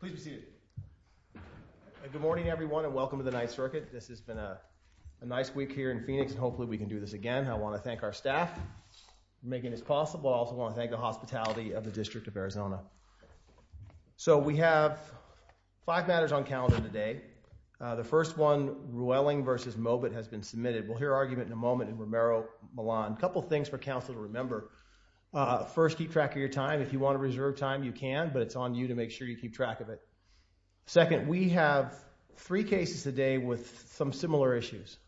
Please be seated. Good morning everyone and welcome to the Ninth Circuit. This has been a nice week here in Phoenix and hopefully we can do this again. I want to thank our staff for making this possible. I also want to thank the hospitality of the District of Arizona. So we have five matters on calendar today. The first one Rueling v. Mobet has been submitted. We'll hear argument in a moment in Romero-Millan. A couple things for council to remember. First, keep track of your time. If you want to reserve time you can but it's on you to make sure you keep track of it. Second, we have three cases today with some similar issues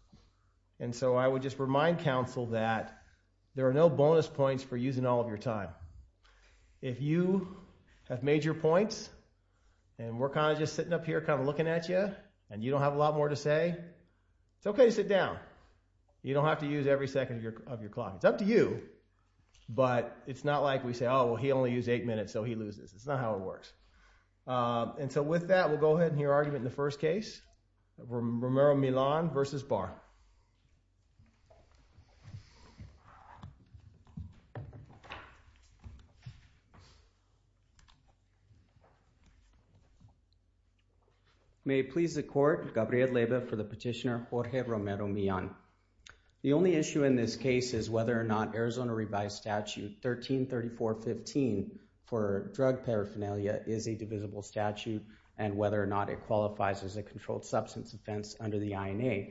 and so I would just remind council that there are no bonus points for using all of your time. If you have made your points and we're kind of just sitting up here kind of looking at you and you don't have a lot more to say, it's okay to sit down. You don't have to use every second of your clock. It's up to you but it's not like we say, oh well he only used eight minutes so he loses. It's not how it works. And so with that we'll go ahead and hear argument in the first case. Romero-Millan v. Barr. May it please the court, Gabriel Lebe for the petitioner Jorge Romero-Millan. The only issue in this case is whether or not Arizona revised statute 133415 for drug paraphernalia is a divisible statute and whether or not it qualifies as a controlled substance offense under the INA.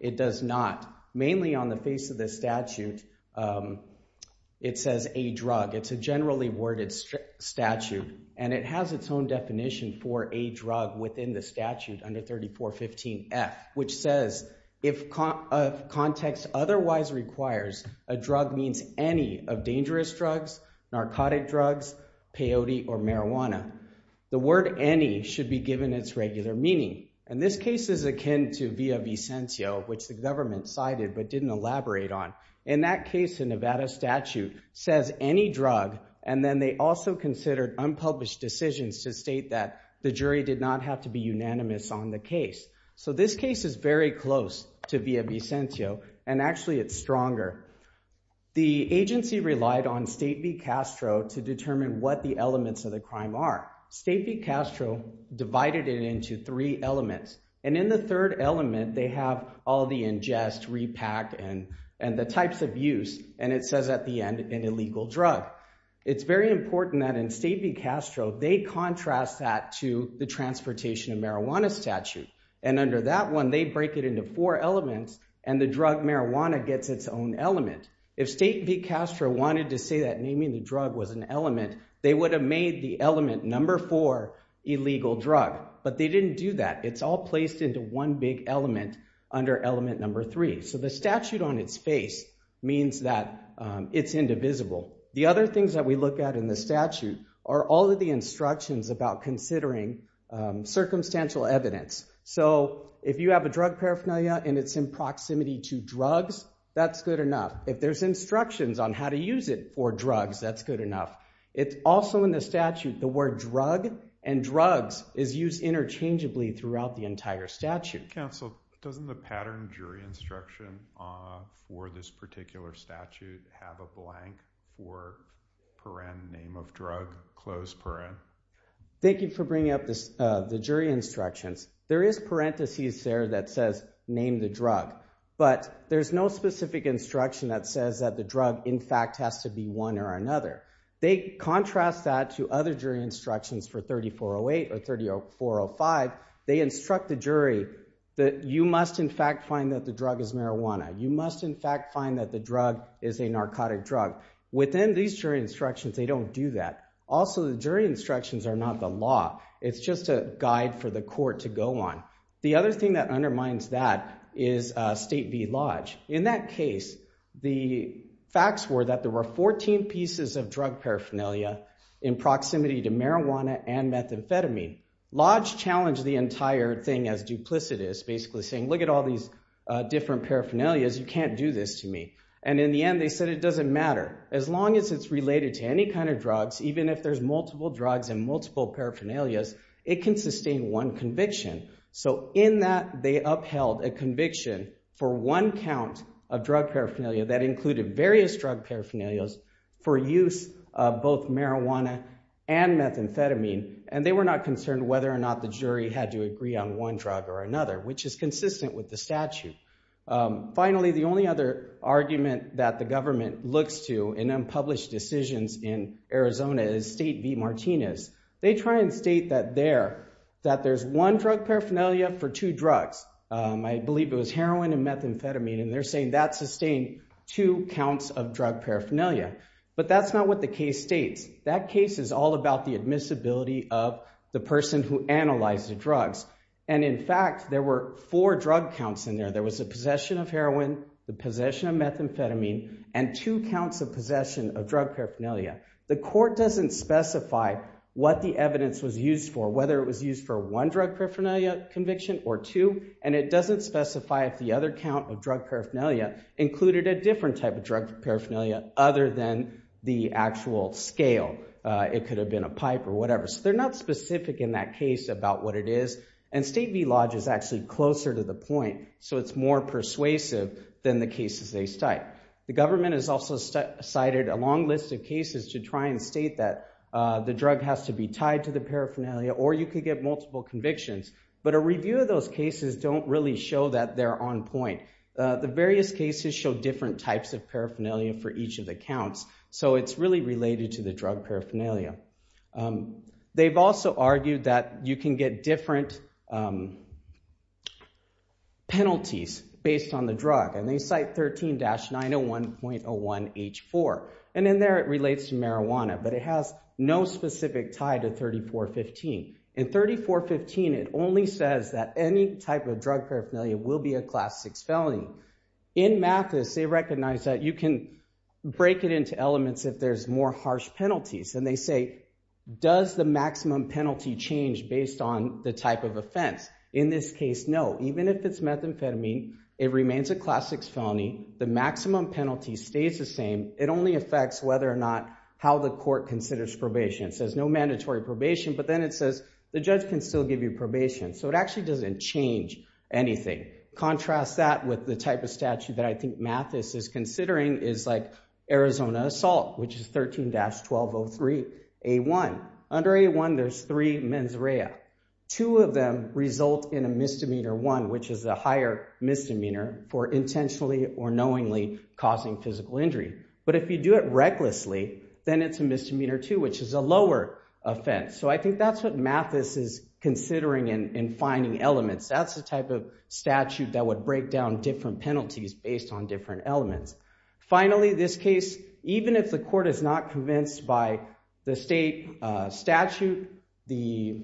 It does not. Mainly on the face of the statute it says a drug. It's a generally worded statute and it has its own definition for a drug within the statute under 3415 F which says if context otherwise requires a drug means any of dangerous drugs, narcotic drugs, peyote or marijuana. The word any should be given its regular meaning and this case is akin to via v. Sencio which the government cited but didn't elaborate on. In that case the Nevada statute says any drug and then they also considered unpublished decisions to state that the jury did not have to be unanimous on the via v. Sencio and actually it's stronger. The agency relied on state v. Castro to determine what the elements of the crime are. State v. Castro divided it into three elements and in the third element they have all the ingest, repack and and the types of use and it says at the end an illegal drug. It's very important that in state v. Castro they contrast that to the transportation of marijuana statute and under that one they break it into four elements and the drug marijuana gets its own element. If state v. Castro wanted to say that naming the drug was an element they would have made the element number four illegal drug but they didn't do that. It's all placed into one big element under element number three. So the statute on its face means that it's indivisible. The other things that we look at in the statute are all of the instructions about considering circumstantial evidence. So if you have a drug paraphernalia and it's in proximity to drugs that's good enough. If there's instructions on how to use it for drugs that's good enough. It's also in the statute the word drug and drugs is used interchangeably throughout the entire statute. Counsel doesn't the pattern jury instruction for this particular statute have a blank for paren name of drug Thank you for bringing up this the jury instructions. There is parentheses there that says name the drug but there's no specific instruction that says that the drug in fact has to be one or another. They contrast that to other jury instructions for 3408 or 3405. They instruct the jury that you must in fact find that the drug is marijuana. You must in fact find that the drug is a narcotic drug. Within these jury instructions they don't do that. Also the jury instructions are not the law. It's just a guide for the court to go on. The other thing that undermines that is State v. Lodge. In that case the facts were that there were 14 pieces of drug paraphernalia in proximity to marijuana and methamphetamine. Lodge challenged the entire thing as duplicitous basically saying look at all these different paraphernalias you can't do this to me and in the end they said it doesn't matter as long as it's related to any kind of drugs even if there's multiple drugs and multiple paraphernalias it can sustain one conviction. So in that they upheld a conviction for one count of drug paraphernalia that included various drug paraphernalias for use of both marijuana and methamphetamine and they were not concerned whether or not the jury had to agree on one drug or another which is consistent with the statute. Finally the only other argument that the government looks to in unpublished decisions in Arizona is State v. Martinez. They try and state that there that there's one drug paraphernalia for two drugs. I believe it was heroin and methamphetamine and they're saying that sustained two counts of drug paraphernalia but that's not what the case states. That case is all about the admissibility of the person who analyzed the drugs and in fact there were four drug counts in there. There was a possession of heroin, the possession of methamphetamine and two counts of possession of drug paraphernalia. The court doesn't specify what the evidence was used for whether it was used for one drug paraphernalia conviction or two and it doesn't specify if the other count of drug paraphernalia included a different type of drug paraphernalia other than the actual scale. It could have been a pipe or whatever. So they're not specific in that case about what it is and State v. Lodge is actually closer to the point so it's more persuasive than the cases they cite. The government has also cited a long list of cases to try and state that the drug has to be tied to the paraphernalia or you could get multiple convictions but a review of those cases don't really show that they're on point. The various cases show different types of paraphernalia for each of the counts so it's really related to the drug paraphernalia. They've also argued that you can get different penalties based on the drug and they cite 13-901.01H4 and in there it relates to marijuana but it has no specific tie to 3415. In 3415 it only says that any type of drug paraphernalia will be a class 6 felony. In Mathis they penalties and they say does the maximum penalty change based on the type of offense. In this case no. Even if it's methamphetamine it remains a class 6 felony. The maximum penalty stays the same. It only affects whether or not how the court considers probation. It says no mandatory probation but then it says the judge can still give you probation. So it actually doesn't change anything. Contrast that with the type of statute that I think Mathis is considering is like Arizona assault which is 13-1203A1. Under A1 there's three mens rea. Two of them result in a misdemeanor one which is a higher misdemeanor for intentionally or knowingly causing physical injury. But if you do it recklessly then it's a misdemeanor two which is a lower offense. So I think that's what Mathis is considering in finding elements. That's the type of statute that would break down different penalties based on different elements. Finally this case even if the court is not convinced by the state statute, the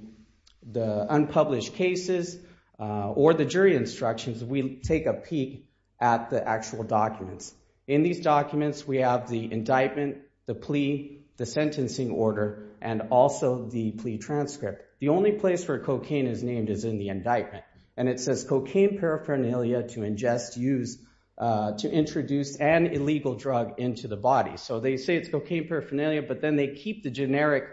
unpublished cases, or the jury instructions, we take a peek at the actual documents. In these documents we have the indictment, the plea, the sentencing order, and also the plea transcript. The only place where cocaine is named is in the indictment and it says cocaine paraphernalia to ingest used to introduce an illegal drug into the body. So they say it's cocaine paraphernalia but then they keep the generic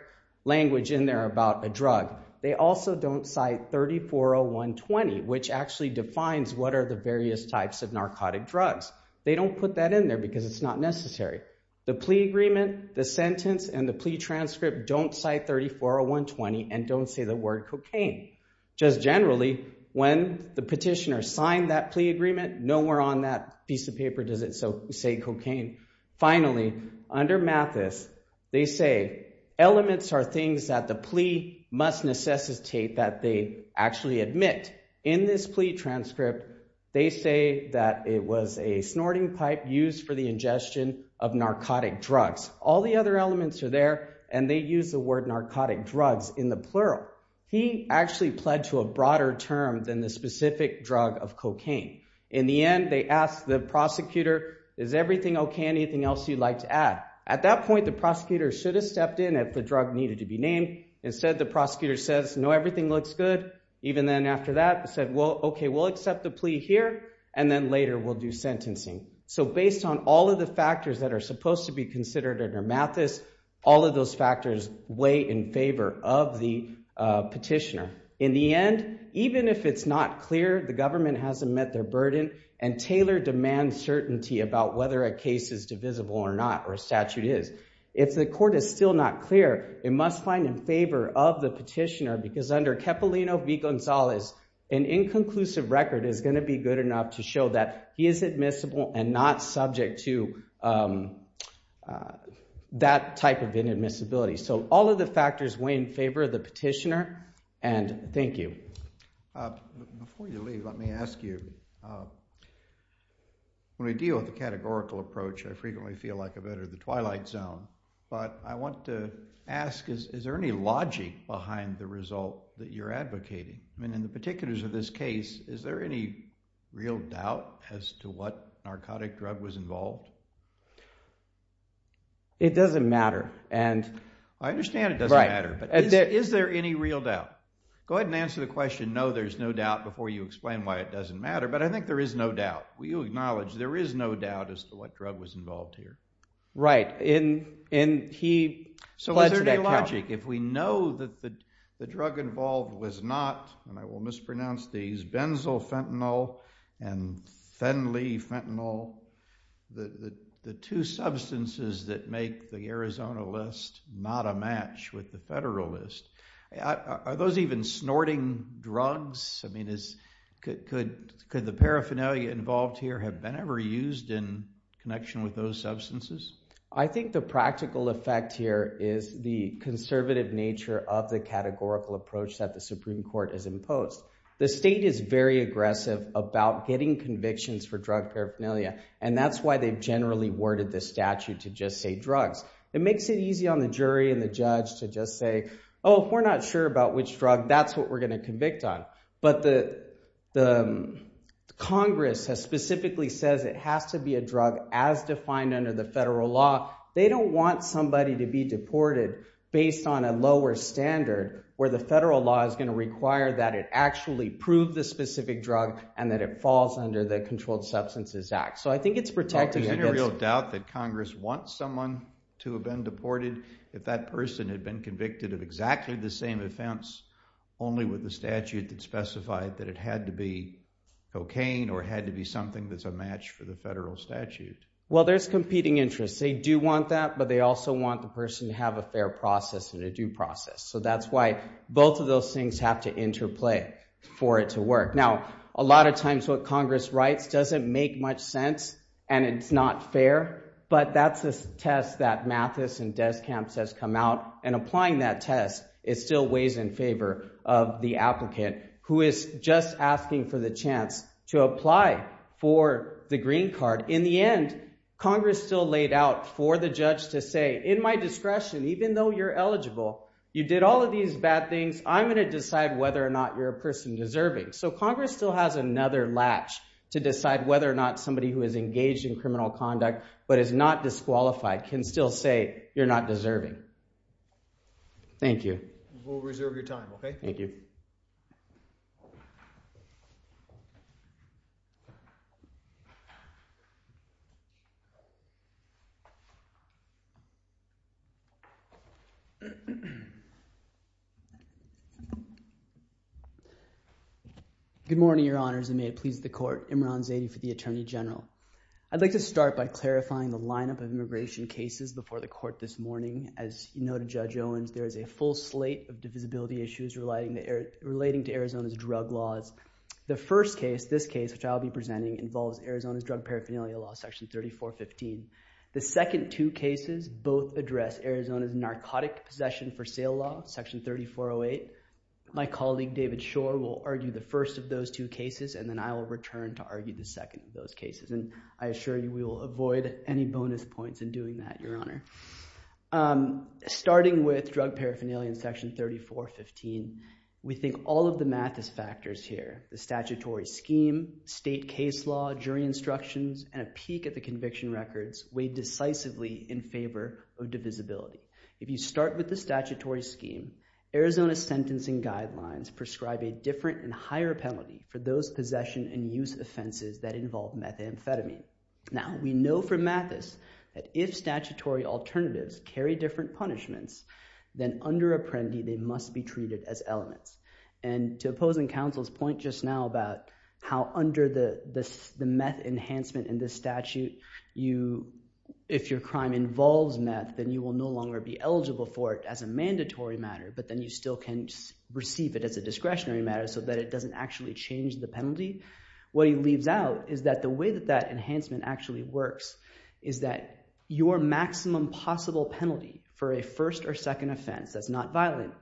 language in there about a drug. They also don't cite 340120 which actually defines what are the various types of narcotic drugs. They don't put that in there because it's not necessary. The plea agreement, the sentence, and the plea transcript don't cite 340120 and don't say the word cocaine. Just generally when the nowhere on that piece of paper does it say cocaine. Finally under Mathis they say elements are things that the plea must necessitate that they actually admit. In this plea transcript they say that it was a snorting pipe used for the ingestion of narcotic drugs. All the other elements are there and they use the word narcotic drugs in the plural. He actually pled to a broader term than the asked the prosecutor is everything okay anything else you'd like to add. At that point the prosecutor should have stepped in if the drug needed to be named. Instead the prosecutor says no everything looks good. Even then after that said well okay we'll accept the plea here and then later we'll do sentencing. So based on all of the factors that are supposed to be considered under Mathis all of those factors weigh in favor of the petitioner. In the end even if it's not clear the government hasn't met their burden and Taylor demands certainty about whether a case is divisible or not or a statute is. If the court is still not clear it must find in favor of the petitioner because under Cepollino v. Gonzalez an inconclusive record is going to be good enough to show that he is admissible and not subject to that type of inadmissibility. So all of the factors weigh in favor of the petitioner and thank you. Before you leave let me ask you when we deal with the categorical approach I frequently feel like a bit of the Twilight Zone but I want to ask is there any logic behind the result that you're advocating? I mean in the particulars of this case is there any real doubt as to what narcotic drug was involved? It doesn't matter and I understand it doesn't matter but is there any real doubt? Go ahead and answer the question no there's no doubt before you explain why it doesn't matter but I think there is no doubt. Will you acknowledge there is no doubt as to what drug was involved here? Right and he pledged that count. So is there any logic if we know that the drug involved was not and I will mispronounce these benzoyl fentanyl and phenyl fentanyl the two substances that make the Arizona list not a match with the federal list. Are those even snorting drugs? I mean could the paraphernalia involved here have been ever used in connection with those substances? I think the practical effect here is the conservative nature of the categorical approach that the Supreme Court has imposed. The state is very aggressive about getting convictions for drug paraphernalia and that's why they've generally worded this statute to just say drugs. It makes it easy on the jury and the judge to just say oh we're not sure about which drug that's what we're going to convict on. But the Congress has specifically says it has to be a drug as defined under the federal law. They don't want somebody to be deported based on a lower standard where the federal law is going to require that it actually prove the specific drug and that it falls under the Controlled Substances Act. So I think it's protected. Is there any real doubt that Congress wants someone to have been deported if that person had been convicted of exactly the same offense only with the statute that specified that it had to be cocaine or had to be something that's a match for the federal statute? Well there's competing interests. They do want that but they also want the person to have a fair process and a due process. So that's why both of those things have to interplay for it to work. Now a lot of times what Congress writes doesn't make much sense and it's not fair but that's a test that Mathis and Deskamps has come out and applying that test it still weighs in favor of the applicant who is just asking for the chance to apply for the green card. In the end Congress still laid out for the judge to say in my discretion even though you're eligible you did all of these bad things I'm going to decide whether or not you're a person deserving. So Congress still has another latch to decide whether or not somebody who is engaged in criminal conduct but is not disqualified can still say you're not deserving. Thank you. We'll reserve your time okay. Thank you. Good morning your honors and may it please the court. Imran Zaidi for the Attorney General. I'd like to start by clarifying the lineup of immigration cases before the court this morning. As you know to Judge Owens there is a full slate of divisibility issues relating to Arizona's drug laws. The first case, this case, which I'll be presenting involves Arizona's drug paraphernalia law section 3415. The second two cases both address Arizona's narcotic possession for sale law section 3408. My colleague David Shore will argue the first of those two cases and then I will return to argue the second of those cases and I assure you we will avoid any bonus points in doing that your honor. Starting with drug paraphernalia in section 3415 we think all of the math is factors here. The statutory scheme, state case law, jury instructions, and a peek at the conviction records weighed decisively in favor of divisibility. If you start with the statutory scheme Arizona's sentencing guidelines prescribe a different and higher penalty for those possession and use offenses that involve methamphetamine. Now we know from Mathis that if statutory alternatives carry different punishments then under Apprendi they must be treated as elements. And to opposing counsel's point just now about how under the meth enhancement in this statute you if your crime involves meth then you will no longer be eligible for it as a mandatory matter but then you still can receive it as a discretionary matter so that it doesn't actually change the penalty. What he leaves out is that the way that that enhancement actually works is that your maximum possible penalty for a first or second offense that's not violent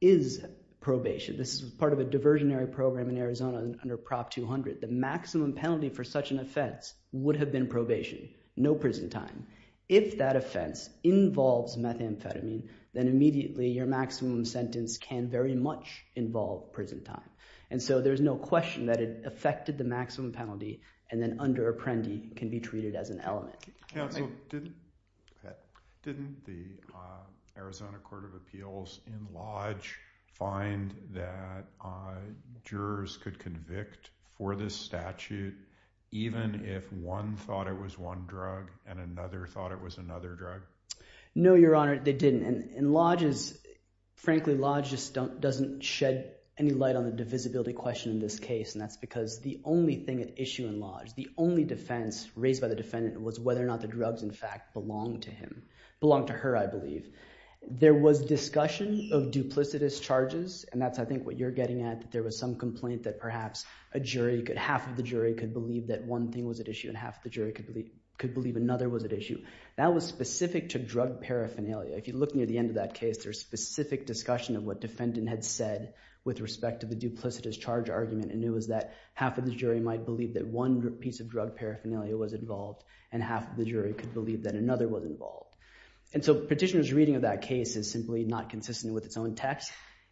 is probation. This is part of a diversionary program in Arizona under Prop 200. The maximum penalty for such an offense would have been probation, no prison time. If that offense involves methamphetamine then immediately your much involved prison time. And so there's no question that it affected the maximum penalty and then under Apprendi can be treated as an element. Didn't the Arizona Court of Appeals in Lodge find that jurors could convict for this statute even if one thought it was one drug and another thought it was another drug? No your honor they didn't and in Lodge's frankly Lodge just doesn't shed any light on the divisibility question in this case and that's because the only thing at issue in Lodge, the only defense raised by the defendant was whether or not the drugs in fact belonged to him, belonged to her I believe. There was discussion of duplicitous charges and that's I think what you're getting at that there was some complaint that perhaps a jury could half of the jury could believe that one thing was at issue and half the jury could believe another was at issue. That was specific to drug paraphernalia. If you look near the end of that case there's specific discussion of what defendant had said with respect to the duplicitous charge argument and it was that half of the jury might believe that one piece of drug paraphernalia was involved and half of the jury could believe that another was involved. And so petitioners reading of that case is simply not consistent with its own text.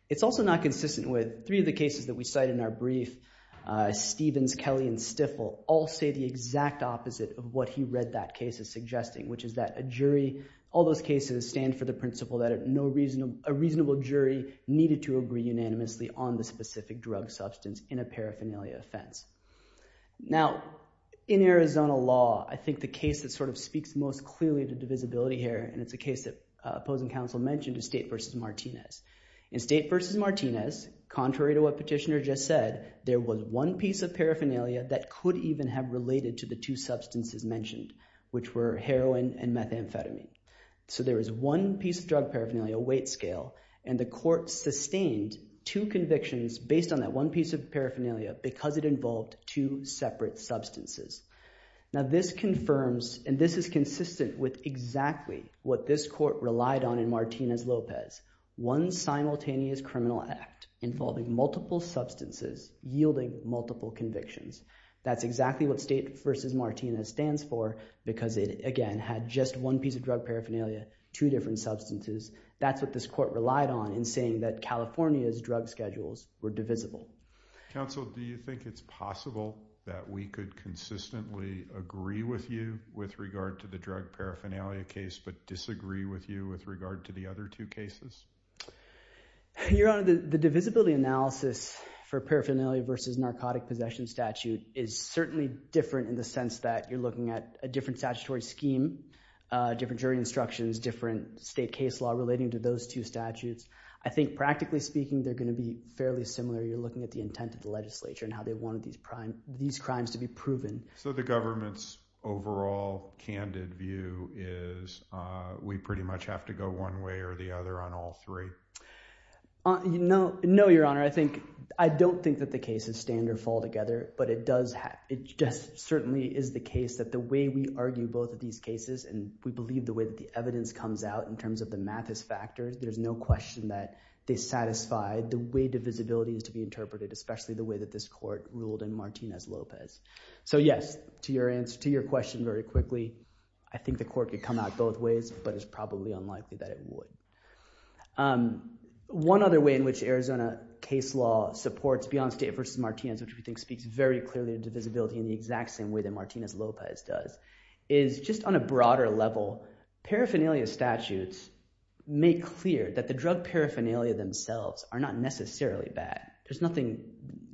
It's also not consistent with three of the cases that we cite in our brief. Stevens, Kelly, and Stifel all say the exact opposite of what he read that case is suggesting which is that a jury all those cases stand for the needed to agree unanimously on the specific drug substance in a paraphernalia offense. Now in Arizona law I think the case that sort of speaks most clearly to divisibility here and it's a case that opposing counsel mentioned is State v. Martinez. In State v. Martinez contrary to what petitioner just said there was one piece of paraphernalia that could even have related to the two substances mentioned which were heroin and methamphetamine. So there is one piece of drug paraphernalia weight scale and the court sustained two convictions based on that one piece of paraphernalia because it involved two separate substances. Now this confirms and this is consistent with exactly what this court relied on in Martinez-Lopez. One simultaneous criminal act involving multiple substances yielding multiple convictions. That's exactly what State v. Martinez stands for because it again had just one piece of drug paraphernalia, two different substances. That's what this court relied on in saying that California's drug schedules were divisible. Counsel do you think it's possible that we could consistently agree with you with regard to the drug paraphernalia case but disagree with you with regard to the other two cases? Your Honor the divisibility analysis for paraphernalia versus narcotic possession statute is certainly different in the scheme, different jury instructions, different state case law relating to those two statutes. I think practically speaking they're going to be fairly similar. You're looking at the intent of the legislature and how they wanted these crimes to be proven. So the government's overall candid view is we pretty much have to go one way or the other on all three? No, Your Honor. I don't think that the cases stand or fall together but it just certainly is the case that the way we argue both of these cases and we believe the way that the evidence comes out in terms of the Mathis factors, there's no question that they satisfy the way divisibility is to be interpreted, especially the way that this court ruled in Martinez-Lopez. So yes, to your question very quickly, I think the court could come out both ways but it's probably unlikely that it would. One other way in which Arizona case law supports Beyond State v. Martinez, which we think speaks very clearly to divisibility in the exact same way that Martinez-Lopez does, is just on a broader level, paraphernalia statutes make clear that the drug paraphernalia themselves are not necessarily bad. There's nothing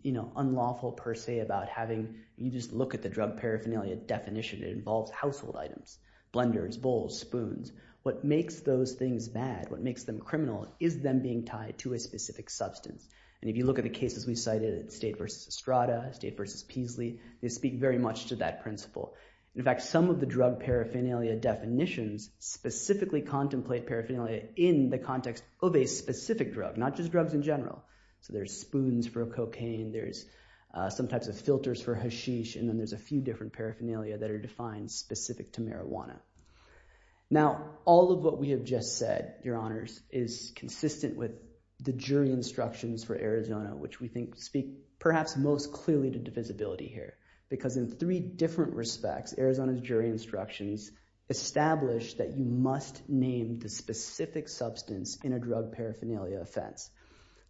unlawful per se about having you just look at the drug paraphernalia definition. It involves household items, blenders, bowls, spoons. What makes those things bad, what makes them criminal, is them being tied to a specific substance. And if you look at the cases we cited at State v. Estrada, State v. Peasley, they speak very much to that principle. In fact, some of the drug paraphernalia definitions specifically contemplate paraphernalia in the context of a specific drug, not just drugs in general. So there's spoons for cocaine, there's some types of filters for hashish, and then there's a few different paraphernalia that are defined specific to marijuana. Now, all of what we have just said, your honors, is consistent with the jury instructions for Arizona, which we think speak perhaps most clearly to divisibility here. Because in three different respects, Arizona's jury instructions establish that you must name the specific substance in a drug paraphernalia offense.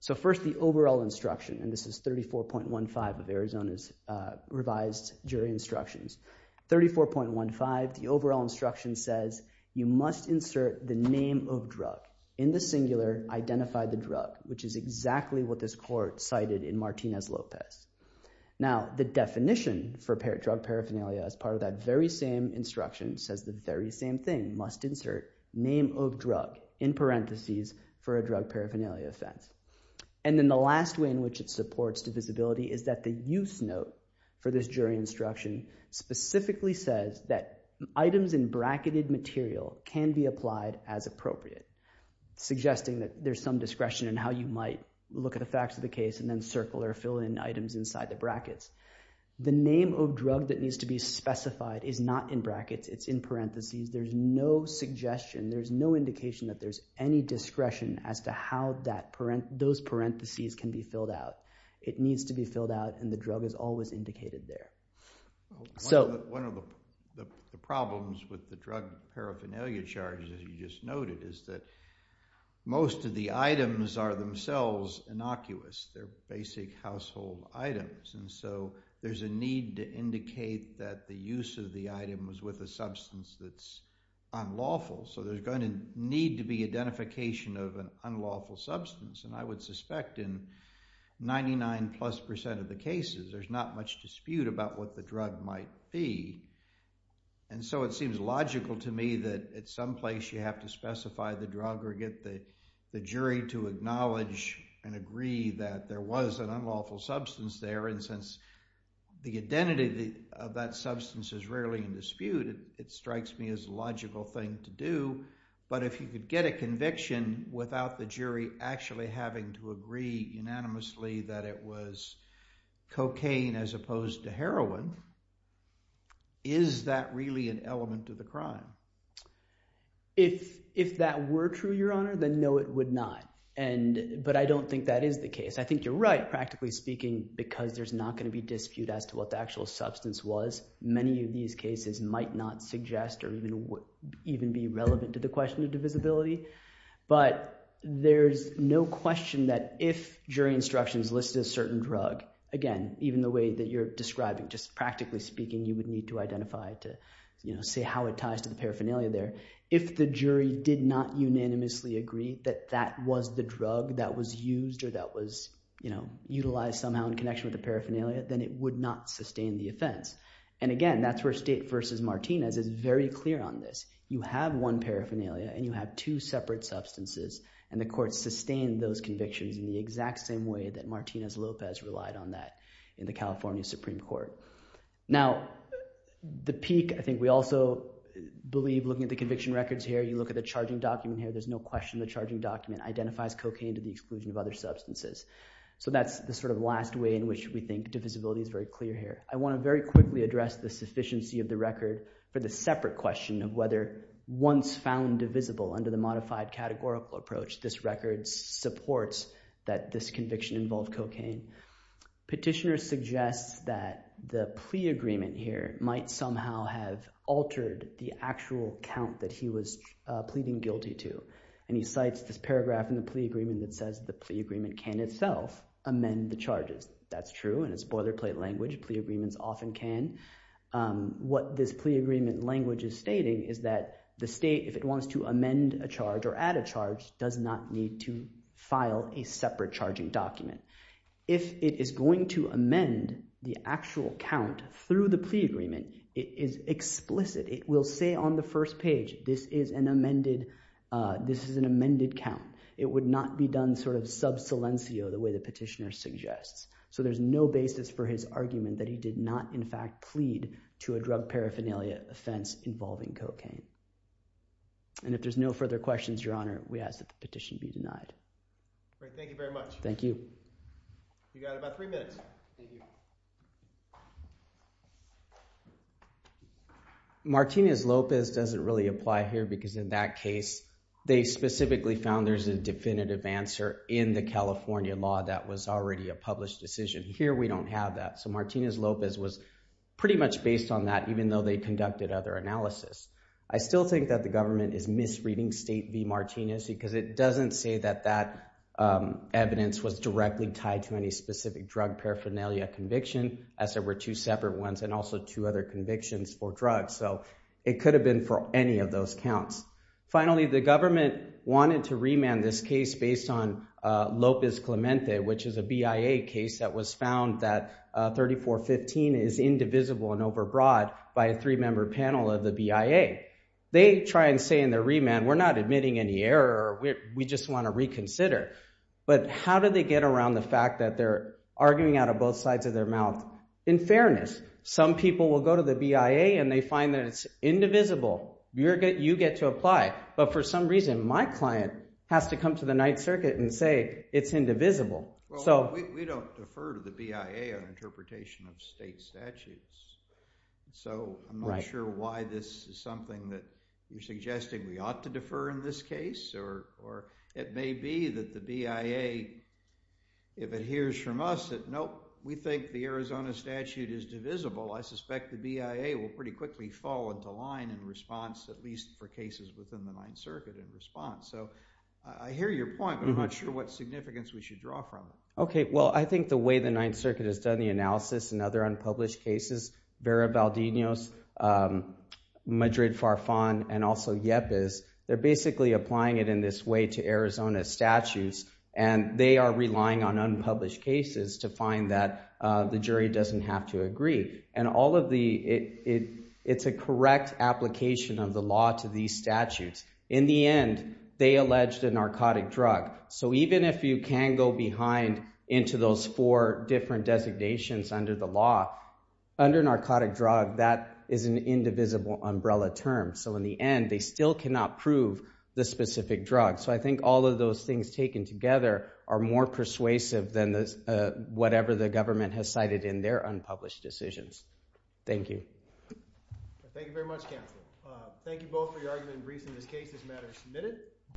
So first, the overall instruction, and this is 34.15 of Arizona's revised jury instructions. 34.15, the overall instruction says you must insert the name of drug. In the singular, identify the drug, which is exactly what this court cited in Martinez-Lopez. Now, the definition for drug paraphernalia as part of that very same instruction says the very same thing, must insert name of drug in parentheses for a drug paraphernalia offense. And then the last way in which it supports divisibility is that the use note for this jury instruction specifically says that items in bracketed material can be applied as appropriate, suggesting that there's some discretion in how you might look at the case and then circle or fill in items inside the brackets. The name of drug that needs to be specified is not in brackets, it's in parentheses. There's no suggestion, there's no indication that there's any discretion as to how those parentheses can be filled out. It needs to be filled out and the drug is always indicated there. So one of the problems with the drug paraphernalia charges, as you just noted, is that most of the items are themselves innocuous. They're basic household items and so there's a need to indicate that the use of the item was with a substance that's unlawful. So there's going to need to be identification of an unlawful substance and I would suspect in 99 plus percent of the cases there's not much dispute about what the drug might be. And so it someplace you have to specify the drug or get the jury to acknowledge and agree that there was an unlawful substance there and since the identity of that substance is rarely in dispute, it strikes me as a logical thing to do. But if you could get a conviction without the jury actually having to agree unanimously that it was cocaine as opposed to heroin, is that really an unlawful crime? If that were true, Your Honor, then no it would not. But I don't think that is the case. I think you're right, practically speaking, because there's not going to be dispute as to what the actual substance was. Many of these cases might not suggest or even be relevant to the question of divisibility. But there's no question that if jury instructions listed a certain drug, again even the way that you're describing, just practically speaking, you would need to identify to see how it ties to the paraphernalia there. If the jury did not unanimously agree that that was the drug that was used or that was utilized somehow in connection with the paraphernalia, then it would not sustain the offense. And again that's where State v. Martinez is very clear on this. You have one paraphernalia and you have two separate substances and the court sustained those convictions in the exact same way that Martinez Lopez relied on that in the California Supreme Court. Now the peak, I think we also believe looking at the conviction records here, you look at the charging document here, there's no question the charging document identifies cocaine to the exclusion of other substances. So that's the sort of last way in which we think divisibility is very clear here. I want to very quickly address the sufficiency of the record for the separate question of whether once found divisible under the modified categorical approach, this record supports that this conviction involved cocaine. Petitioners suggest that the plea agreement here might somehow have altered the actual count that he was pleading guilty to. And he cites this paragraph in the plea agreement that says the plea agreement can itself amend the charges. That's true and it's boilerplate language. Plea agreements often can. What this plea agreement language is stating is that the State, if it wants to amend a charge or add a charge, does not need to file a separate charging document. If it is going to amend the actual count through the plea agreement, it is explicit. It will say on the first page, this is an amended, this is an amended count. It would not be done sort of sub silencio the way the petitioner suggests. So there's no basis for his argument that he did not in fact plead to a drug paraphernalia offense involving cocaine. And if there's no further questions, Your Honor, we ask that the petition be denied. Thank you very much. Thank you. You got about three minutes. Thank you. Martinez-Lopez doesn't really apply here because in that case, they specifically found there's a definitive answer in the California law that was already a published decision. Here we don't have that. So Martinez-Lopez was pretty much based on that even though they conducted other analysis. I still think that the government is misreading State v. Martinez because it doesn't say that that evidence was directly tied to any specific drug paraphernalia conviction as there were two separate ones and also two other convictions for drugs. So it could have been for any of those counts. Finally, the government wanted to remand this case based on Lopez-Clemente, which is a BIA case that was found that 3415 is indivisible and overbroad by a three-member panel of the BIA. They try and say in their remand, we're not admitting any error. We just want to reconsider. But how do they get around the fact that they're arguing out of both sides of their mouth? In fairness, some people will go to the BIA and they find that it's indivisible. You get to apply. But for some reason, my client has to come to the Ninth Circuit and say it's indivisible. We don't defer to the BIA on interpretation of state statutes. So I'm not sure why this is something that you're suggesting we ought to defer in this case. Or it may be that the BIA, if it hears from us, that nope, we think the Arizona statute is divisible. I suspect the BIA will pretty quickly fall into line in response, at least for cases within the Ninth Circuit in response. So I hear your point, but I'm not sure what significance we should draw from it. Okay, well I think the way the Ninth Circuit has done the analysis and other unpublished cases, Vera Valdez, Madrid Farfan, and also Yepes, they're basically applying it in this way to Arizona statutes. And they are relying on unpublished cases to find that the jury doesn't have to agree. And all of the, it it's a correct application of the law to these statutes. In the end, they alleged a narcotic drug. So even if you can go behind into those four different designations under the law, under narcotic drug, that is an indivisible umbrella term. So in the end, they still cannot prove the specific drug. So I think all of those things taken together are more persuasive than this whatever the government has cited in their unpublished decisions. Thank you.